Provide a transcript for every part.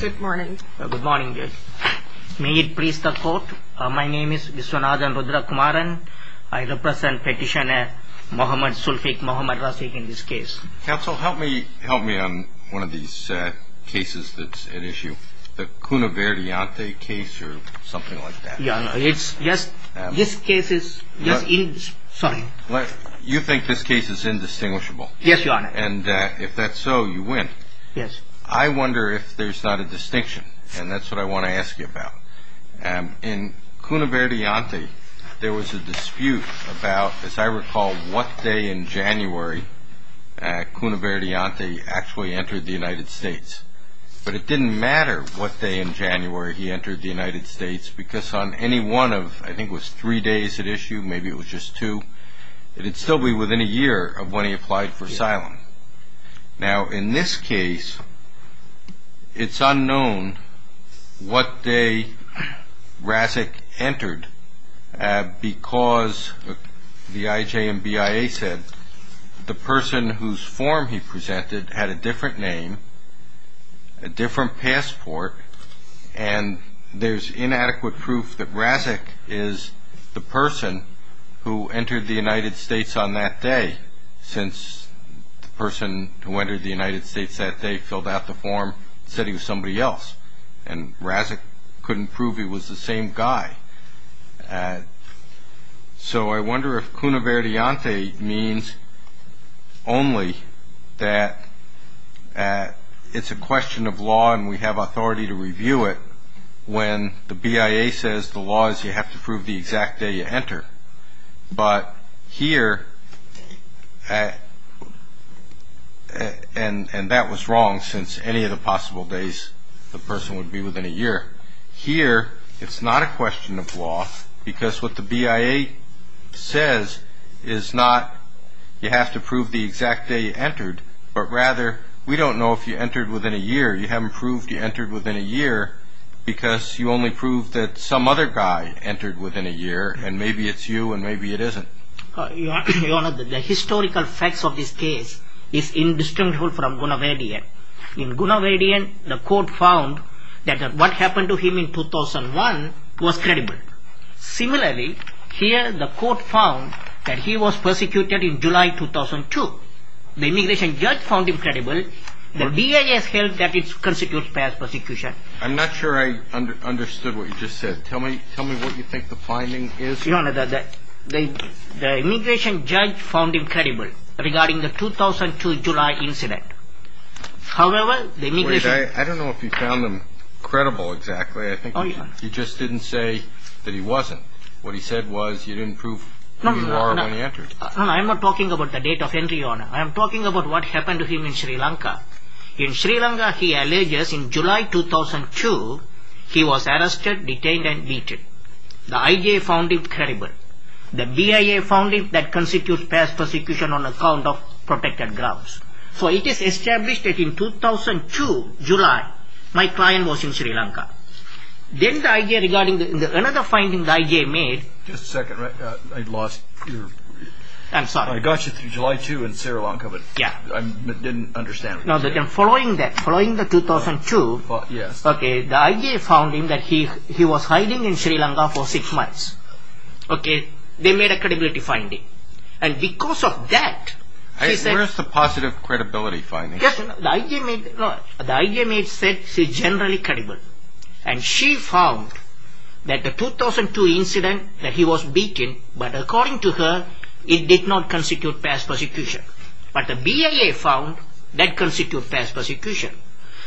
Good morning. Good morning, Judge. May it please the Court, my name is Viswanathan Rudrakumaran. I represent Petitioner Mohamed Sulfik Mohamed Razik in this case. Counsel, help me on one of these cases that's at issue. The Cuno Verdiante case or something like that. Yes, this case is just indistinguishable. You think this case is indistinguishable? Yes, Your Honor. And if that's so, you win. Yes. I wonder if there's not a distinction, and that's what I want to ask you about. In Cuno Verdiante, there was a dispute about, as I recall, what day in January Cuno Verdiante actually entered the United States. But it didn't matter what day in January he entered the United States because on any one of, I think it was three days at issue, maybe it was just two, it would still be within a year of when he applied for asylum. Now, in this case, it's unknown what day Razik entered because the IJ and BIA said the person whose form he presented had a different name, a different passport, and there's inadequate proof that Razik is the person who entered the United States on that day since the person who entered the United States that day filled out the form and said he was somebody else, and Razik couldn't prove he was the same guy. So I wonder if Cuno Verdiante means only that it's a question of law and we have authority to review it when the BIA says the law is you have to prove the exact day you enter. But here, and that was wrong since any of the possible days the person would be within a year. Here, it's not a question of law because what the BIA says is not you have to prove the exact day you entered, but rather we don't know if you entered within a year. You haven't proved you entered within a year because you only proved that some other guy entered within a year, and maybe it's you and maybe it isn't. The historical facts of this case is indistinguishable from Cuno Verdiante. In Cuno Verdiante, the court found that what happened to him in 2001 was credible. Similarly, here the court found that he was persecuted in July 2002. The immigration judge found him credible. The BIA has held that it constitutes past persecution. I'm not sure I understood what you just said. Tell me what you think the finding is. Your Honor, the immigration judge found him credible regarding the 2002 July incident. However, the immigration... Wait, I don't know if you found him credible exactly. I think you just didn't say that he wasn't. What he said was you didn't prove who you are when you entered. No, I'm not talking about the date of entry, Your Honor. I'm talking about what happened to him in Sri Lanka. In Sri Lanka, he alleges in July 2002 he was arrested, detained and beaten. The IJA found him credible. The BIA found him that constitutes past persecution on account of protected grounds. So it is established that in 2002 July, my client was in Sri Lanka. Then the IJA regarding another finding the IJA made... Just a second, I lost your... I'm sorry. I got you through July 2 in Sri Lanka, but I didn't understand what you said. Following that, following the 2002... The IJA found him that he was hiding in Sri Lanka for 6 months. They made a credibility finding. And because of that... Where is the positive credibility finding? The IJA said he is generally credible. And she found that the 2002 incident that he was beaten, but according to her it did not constitute past persecution. But the BIA found that constitutes past persecution.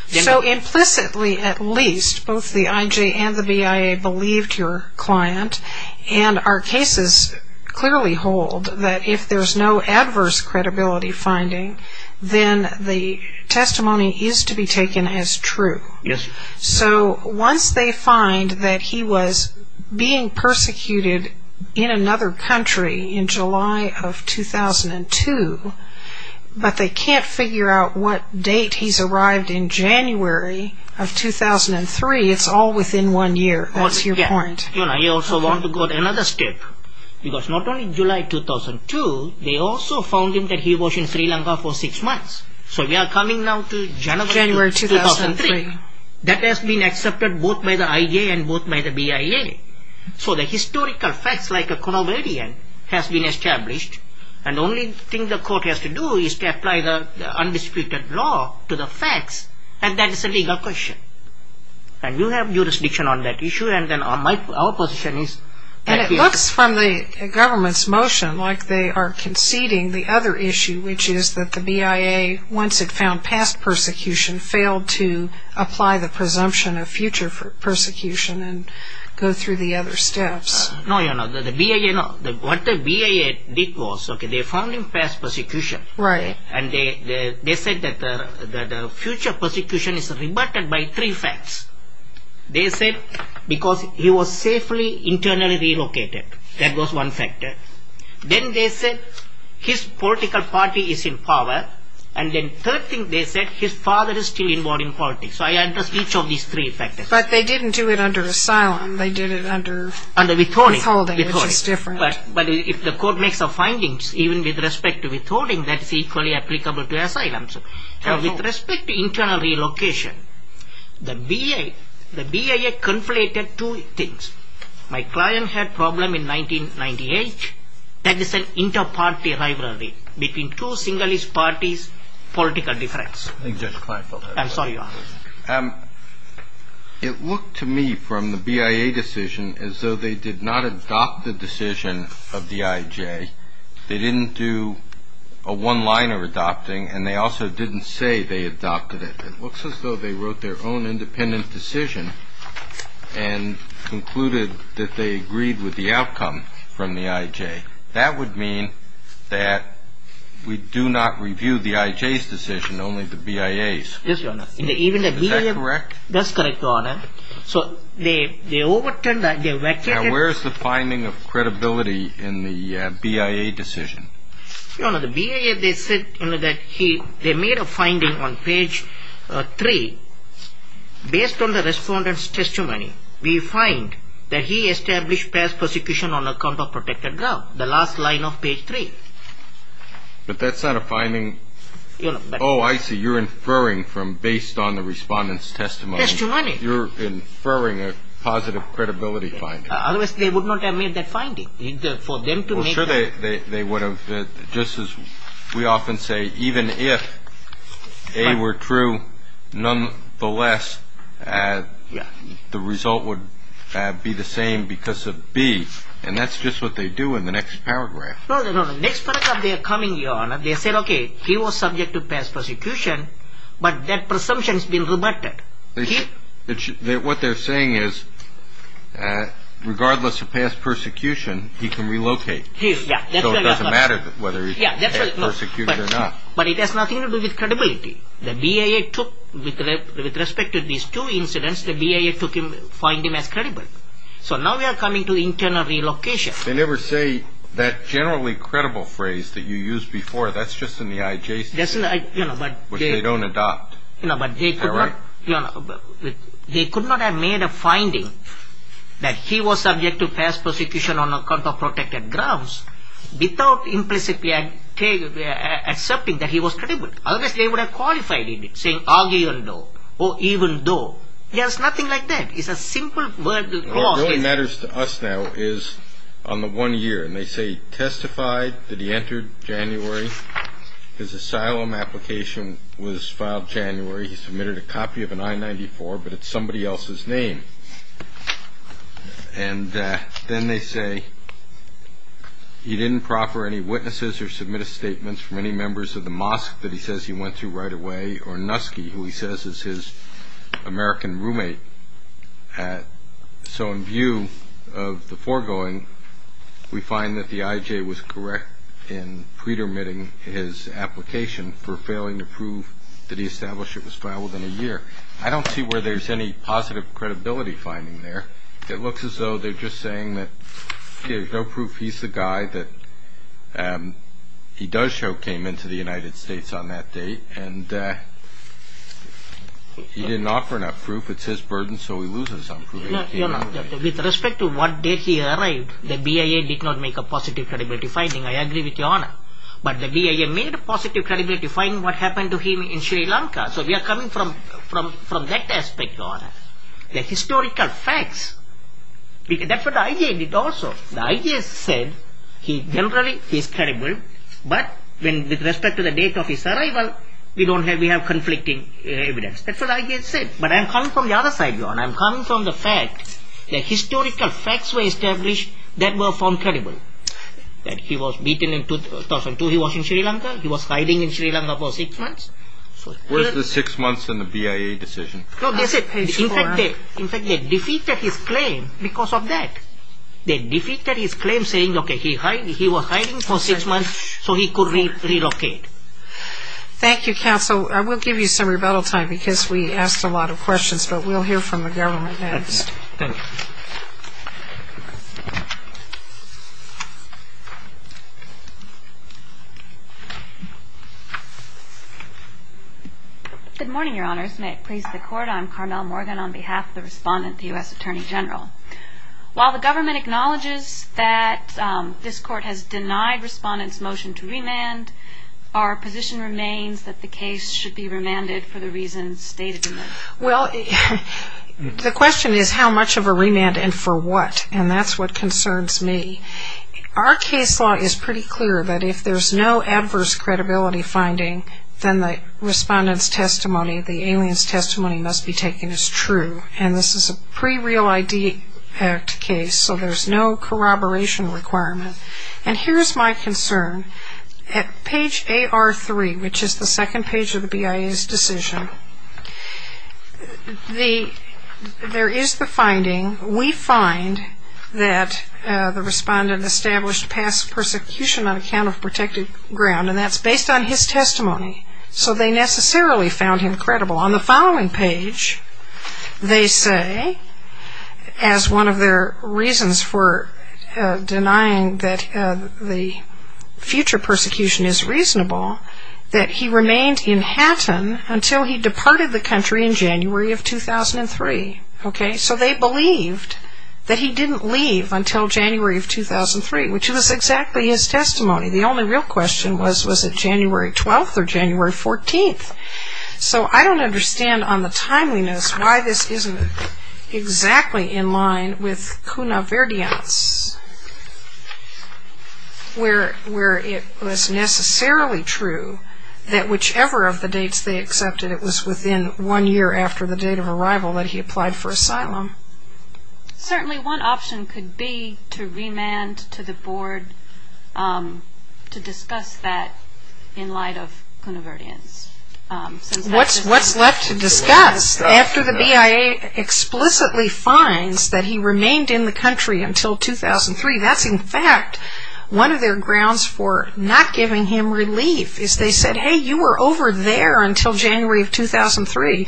So implicitly at least, both the IJA and the BIA believed your client. And our cases clearly hold that if there is no adverse credibility finding, then the testimony is to be taken as true. Yes. So once they find that he was being persecuted in another country in July of 2002, but they can't figure out what date he's arrived in January of 2003, it's all within one year. That's your point. I also want to go to another step. Because not only July 2002, they also found him that he was in Sri Lanka for 6 months. So we are coming now to January 2003. That has been accepted both by the IJA and both by the BIA. So the historical facts, like a conovarian, has been established, and the only thing the court has to do is to apply the undisputed law to the facts, and that is a legal question. And you have jurisdiction on that issue, and then our position is... And it looks from the government's motion like they are conceding the other issue, which is that the BIA, once it found past persecution, failed to apply the presumption of future persecution and go through the other steps. No, you know, what the BIA did was they found him past persecution, and they said that the future persecution is reverted by three facts. They said because he was safely internally relocated. That was one factor. Then they said his political party is in power, and then third thing they said his father is still involved in politics. So I addressed each of these three factors. But they didn't do it under asylum. They did it under withholding, which is different. But if the court makes the findings, even with respect to withholding, that is equally applicable to asylum. With respect to internal relocation, the BIA conflated two things. My client had problem in 1998. That is an inter-party rivalry between two single-ist parties, political difference. I'm sorry, Your Honor. It looked to me from the BIA decision as though they did not adopt the decision of the IJ. They didn't do a one-liner adopting, and they also didn't say they adopted it. It looks as though they wrote their own independent decision and concluded that they agreed with the outcome from the IJ. That would mean that we do not review the IJ's decision, only the BIA's. Yes, Your Honor. Is that correct? That's correct, Your Honor. So they overturned that. Now where is the finding of credibility in the BIA decision? Your Honor, the BIA, they said that they made a finding on page 3. Based on the respondent's testimony, we find that he established past persecution on account of protected ground, the last line of page 3. But that's not a finding. Oh, I see. You're inferring from based on the respondent's testimony. Testimony. You're inferring a positive credibility finding. Otherwise they would not have made that finding. Well, sure, they would have. Just as we often say, even if A were true, nonetheless, the result would be the same because of B. And that's just what they do in the next paragraph. No, no, no. Next paragraph they are coming, Your Honor. They said, okay, he was subject to past persecution, but that presumption has been reverted. What they're saying is, regardless of past persecution, he can relocate. Yes, that's right. So it doesn't matter whether he's persecuted or not. But it has nothing to do with credibility. The BIA took, with respect to these two incidents, the BIA took him, find him as credible. So now we are coming to internal relocation. They never say that generally credible phrase that you used before. That's just in the IJC. Which they don't adopt. You know, but they could not have made a finding that he was subject to past persecution on account of protected grounds without implicitly accepting that he was credible. Otherwise, they would have qualified it, saying, even though, oh, even though. There's nothing like that. It's a simple clause. What really matters to us now is on the one year. And they say he testified that he entered January. His asylum application was filed January. He submitted a copy of an I-94, but it's somebody else's name. And then they say he didn't proffer any witnesses or submit a statement from any members of the mosque that he says he went to right away, or Nusky, who he says is his American roommate. So in view of the foregoing, we find that the IJ was correct in pre-dermitting his application for failing to prove that he established it was filed within a year. I don't see where there's any positive credibility finding there. It looks as though they're just saying that there's no proof he's the guy that he does show came into the United States on that date. And he didn't offer enough proof. If it's his burden, so he loses some proof. With respect to what date he arrived, the BIA did not make a positive credibility finding. I agree with Your Honor. But the BIA made a positive credibility finding what happened to him in Sri Lanka. So we are coming from that aspect, Your Honor. They're historical facts. That's what the IJ did also. The IJ said he generally is credible, but with respect to the date of his arrival, we have conflicting evidence. That's what the IJ said. But I'm coming from the other side, Your Honor. I'm coming from the fact that historical facts were established that were found credible. That he was beaten in 2002 he was in Sri Lanka. He was hiding in Sri Lanka for six months. Where's the six months in the BIA decision? No, they said, in fact, they defeated his claim because of that. They defeated his claim saying, okay, he was hiding for six months so he could relocate. Thank you, Counsel. So I will give you some rebuttal time because we asked a lot of questions, but we'll hear from the government next. Thank you. Good morning, Your Honors. May it please the Court. I'm Carmel Morgan on behalf of the Respondent, the U.S. Attorney General. While the government acknowledges that this Court has denied Respondent's motion to remand, our position remains that the case should be remanded for the reasons stated in it. Well, the question is how much of a remand and for what, and that's what concerns me. Our case law is pretty clear that if there's no adverse credibility finding, then the Respondent's testimony, the alien's testimony must be taken as true. And this is a pre-Real ID Act case, so there's no corroboration requirement. And here's my concern. At page AR3, which is the second page of the BIA's decision, there is the finding, we find that the Respondent established past persecution on account of protected ground, and that's based on his testimony. So they necessarily found him credible. On the following page, they say, as one of their reasons for denying that the future persecution is reasonable, that he remained in Hatton until he departed the country in January of 2003. So they believed that he didn't leave until January of 2003, which was exactly his testimony. The only real question was, was it January 12th or January 14th? So I don't understand on the timeliness why this isn't exactly in line with Cuna Verdiens, where it was necessarily true that whichever of the dates they accepted, it was within one year after the date of arrival that he applied for asylum. Certainly one option could be to remand to the board to discuss that in light of Cuna Verdiens. What's left to discuss? After the BIA explicitly finds that he remained in the country until 2003, that's in fact one of their grounds for not giving him relief, is they said, hey, you were over there until January of 2003.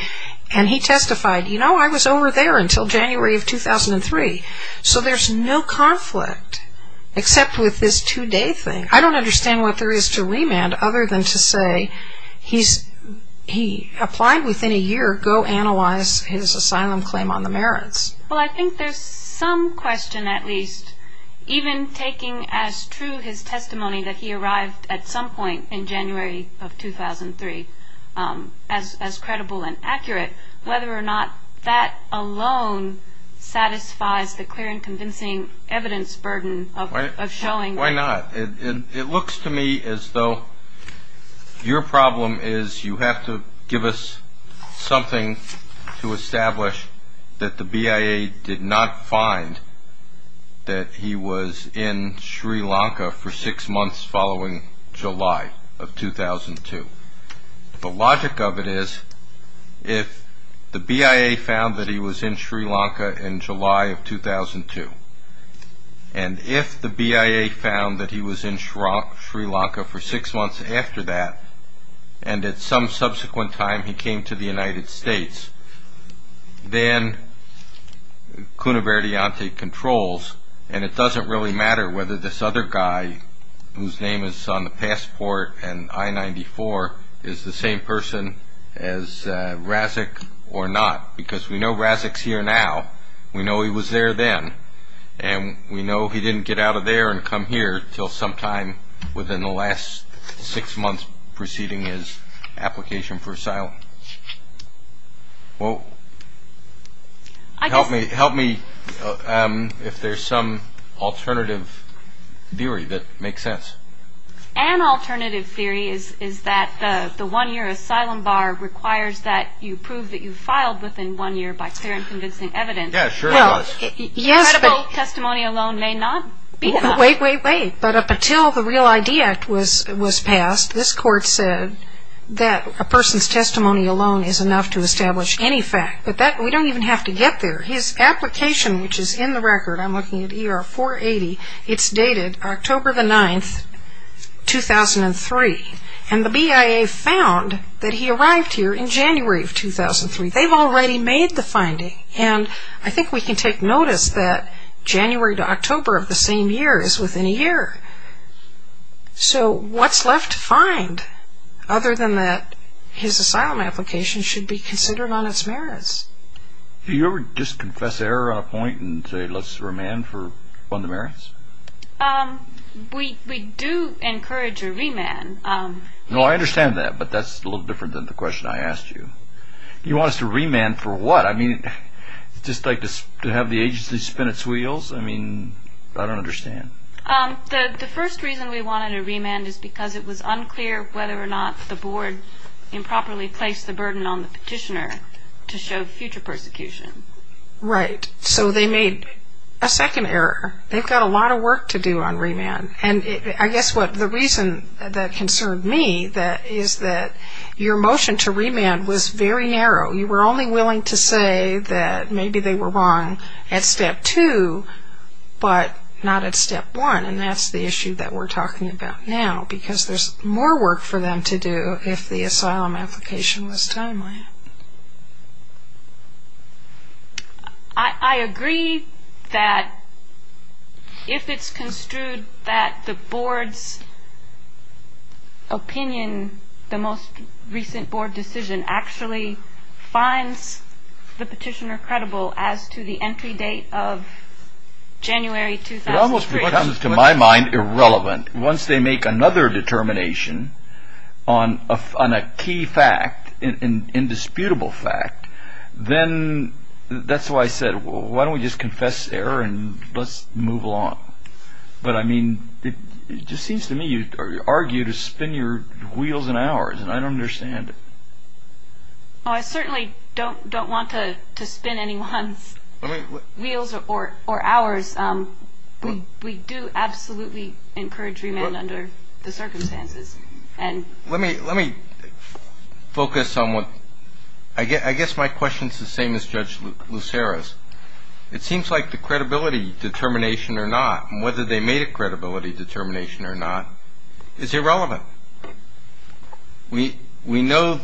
And he testified, you know, I was over there until January of 2003. So there's no conflict except with this two-day thing. I don't understand what there is to remand other than to say he applied within a year. Go analyze his asylum claim on the merits. Well, I think there's some question, at least, even taking as true his testimony that he arrived at some point in January of 2003 as credible and accurate, whether or not that alone satisfies the clear and convincing evidence burden of showing that. Why not? It looks to me as though your problem is you have to give us something to establish that the BIA did not find that he was in Sri Lanka for six months following July of 2002. The logic of it is if the BIA found that he was in Sri Lanka in July of 2002, and if the BIA found that he was in Sri Lanka for six months after that, and at some subsequent time he came to the United States, then Cuno Verdiante controls, and it doesn't really matter whether this other guy, whose name is on the passport and I-94, is the same person as Razek or not, because we know Razek's here now. We know he was there then. And we know he didn't get out of there and come here until sometime within the last six months preceding his application for asylum. Well, help me if there's some alternative theory that makes sense. An alternative theory is that the one-year asylum bar requires that you prove that you filed within one year by clear and convincing evidence. Yeah, sure it does. Credible testimony alone may not be enough. Wait, wait, wait. But up until the Real ID Act was passed, this court said that a person's testimony alone is enough to establish any fact. But we don't even have to get there. His application, which is in the record, I'm looking at ER-480, it's dated October the 9th, 2003. And the BIA found that he arrived here in January of 2003. They've already made the finding. And I think we can take notice that January to October of the same year is within a year. So what's left to find other than that his asylum application should be considered on its merits? Do you ever just confess error on a point and say let's remand for one of the merits? We do encourage a remand. No, I understand that, but that's a little different than the question I asked you. You want us to remand for what? I mean, just like to have the agency spin its wheels? I mean, I don't understand. The first reason we wanted a remand is because it was unclear whether or not the board improperly placed the burden on the petitioner to show future persecution. Right. So they made a second error. They've got a lot of work to do on remand. And I guess the reason that concerned me is that your motion to remand was very narrow. You were only willing to say that maybe they were wrong at step two, but not at step one. And that's the issue that we're talking about now, because there's more work for them to do if the asylum application was timely. I agree that if it's construed that the board's opinion, the most recent board decision, actually finds the petitioner credible as to the entry date of January 2003. It almost becomes, to my mind, irrelevant. Once they make another determination on a key fact, an indisputable fact, then that's why I said, why don't we just confess error and let's move along? But, I mean, it just seems to me you argue to spin your wheels and ours, and I don't understand it. I certainly don't want to spin anyone's wheels or ours. We do absolutely encourage remand under the circumstances. Let me focus on what – I guess my question's the same as Judge Lucero's. It seems like the credibility determination or not, and whether they made a credibility determination or not, is irrelevant. We know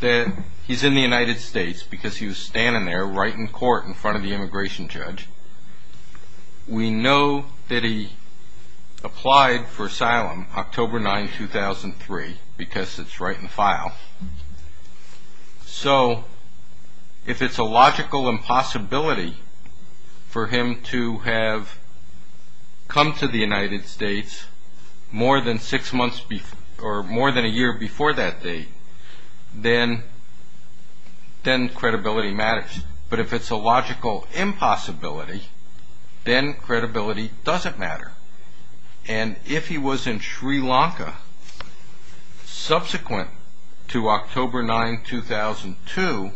that he's in the United States because he was standing there right in court in front of the immigration judge. We know that he applied for asylum October 9, 2003 because it's right in file. So if it's a logical impossibility for him to have come to the United States more than a year before that date, then credibility matters. But if it's a logical impossibility, then credibility doesn't matter. And if he was in Sri Lanka subsequent to October 9, 2002,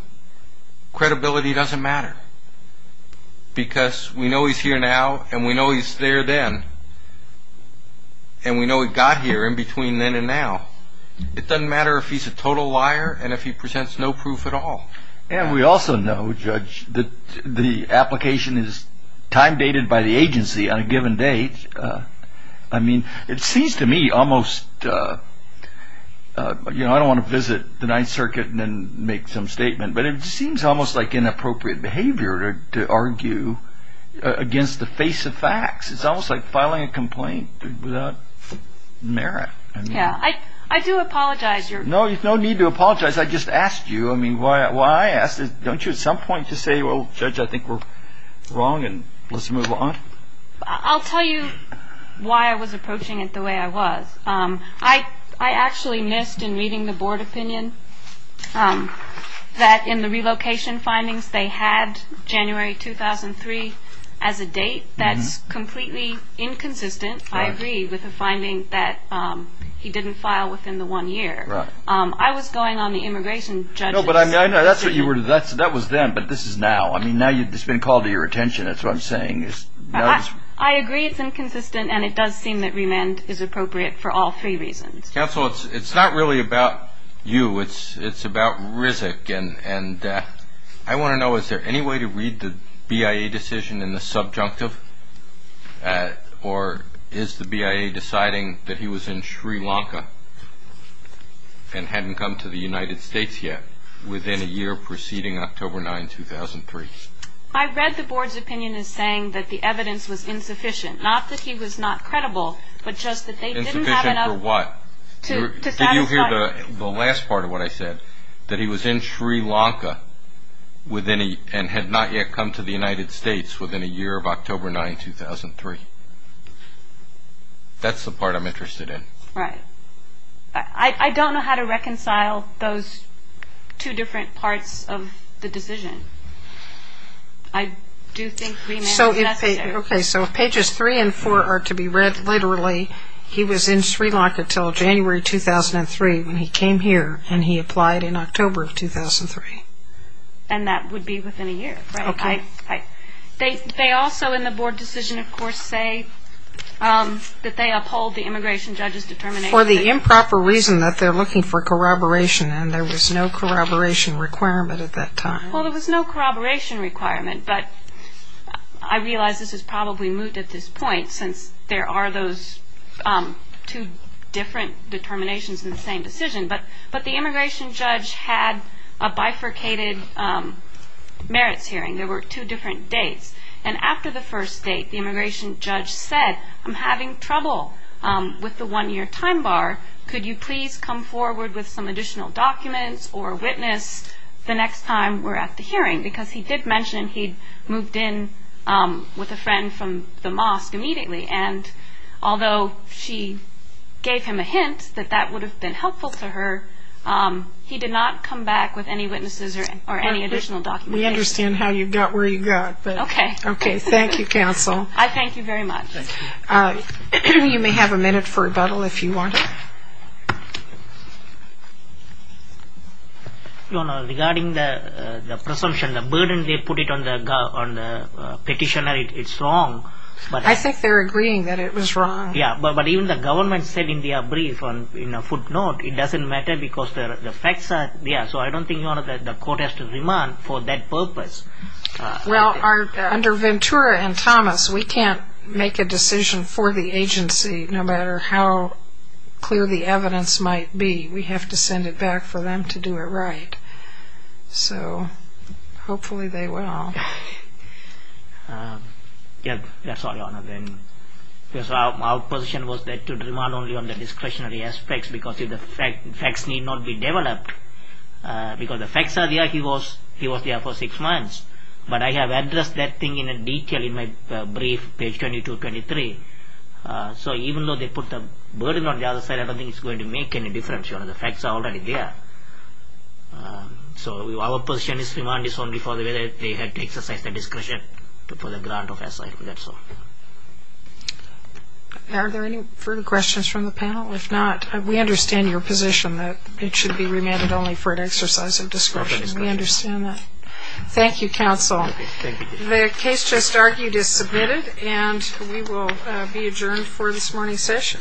credibility doesn't matter because we know he's here now and we know he's there then, and we know he got here in between then and now. It doesn't matter if he's a total liar and if he presents no proof at all. And we also know, Judge, that the application is time-dated by the agency on a given date. I mean, it seems to me almost – you know, I don't want to visit the Ninth Circuit and then make some statement, but it seems almost like inappropriate behavior to argue against the face of facts. It's almost like filing a complaint without merit. Yeah. I do apologize. No need to apologize. I just asked you. I mean, why I asked is don't you at some point just say, well, Judge, I think we're wrong and let's move on? I'll tell you why I was approaching it the way I was. I actually missed, in reading the board opinion, that in the relocation findings they had January 2003 as a date. That's completely inconsistent, I agree, with the finding that he didn't file within the one year. I was going on the immigration judge's – No, but I know that's what you were – that was then, but this is now. I mean, now it's been called to your attention, that's what I'm saying. I agree it's inconsistent, and it does seem that remand is appropriate for all three reasons. Counsel, it's not really about you. It's about Rizk, and I want to know, is there any way to read the BIA decision in the subjunctive? Or is the BIA deciding that he was in Sri Lanka and hadn't come to the United States yet within a year preceding October 9, 2003? I read the board's opinion as saying that the evidence was insufficient. Not that he was not credible, but just that they didn't have enough – Insufficient for what? To satisfy – Did you hear the last part of what I said, that he was in Sri Lanka and had not yet come to the United States within a year of October 9, 2003? That's the part I'm interested in. Right. I don't know how to reconcile those two different parts of the decision. I do think remand is necessary. Okay, so if pages three and four are to be read literally, he was in Sri Lanka until January 2003 when he came here and he applied in October of 2003. And that would be within a year, right? Okay. They also in the board decision, of course, say that they uphold the immigration judge's determination. For the improper reason that they're looking for corroboration, and there was no corroboration requirement at that time. Well, there was no corroboration requirement, but I realize this is probably moot at this point since there are those two different determinations in the same decision. But the immigration judge had a bifurcated merits hearing. There were two different dates. And after the first date, the immigration judge said, I'm having trouble with the one-year time bar. Could you please come forward with some additional documents or a witness the next time we're at the hearing? Because he did mention he'd moved in with a friend from the mosque immediately. And although she gave him a hint that that would have been helpful to her, he did not come back with any witnesses or any additional documents. We understand how you got where you got. Okay. Okay. Thank you, counsel. I thank you very much. Thank you. You may have a minute for rebuttal if you want. Regarding the presumption, the burden they put it on the petitioner, it's wrong. I think they're agreeing that it was wrong. Yeah. But even the government said in their brief, in a footnote, it doesn't matter because the facts are there. So I don't think, Your Honor, that the court has to remand for that purpose. Well, under Ventura and Thomas, we can't make a decision for the agency, no matter how clear the evidence might be. We have to send it back for them to do it right. So hopefully they will. Yeah, that's all, Your Honor. Because our position was to remand only on the discretionary aspects because if the facts need not be developed, because the facts are there, he was there for six months. But I have addressed that thing in detail in my brief, page 22, 23. So even though they put the burden on the other side, I don't think it's going to make any difference, Your Honor. The facts are already there. So our position is to remand this only for the way that they had to exercise their discretion for the grant of asylum. That's all. Are there any further questions from the panel? If not, we understand your position that it should be remanded only for an exercise of discretion. We understand that. Thank you, counsel. The case just argued is submitted, and we will be adjourned for this morning's session. Thank you very much.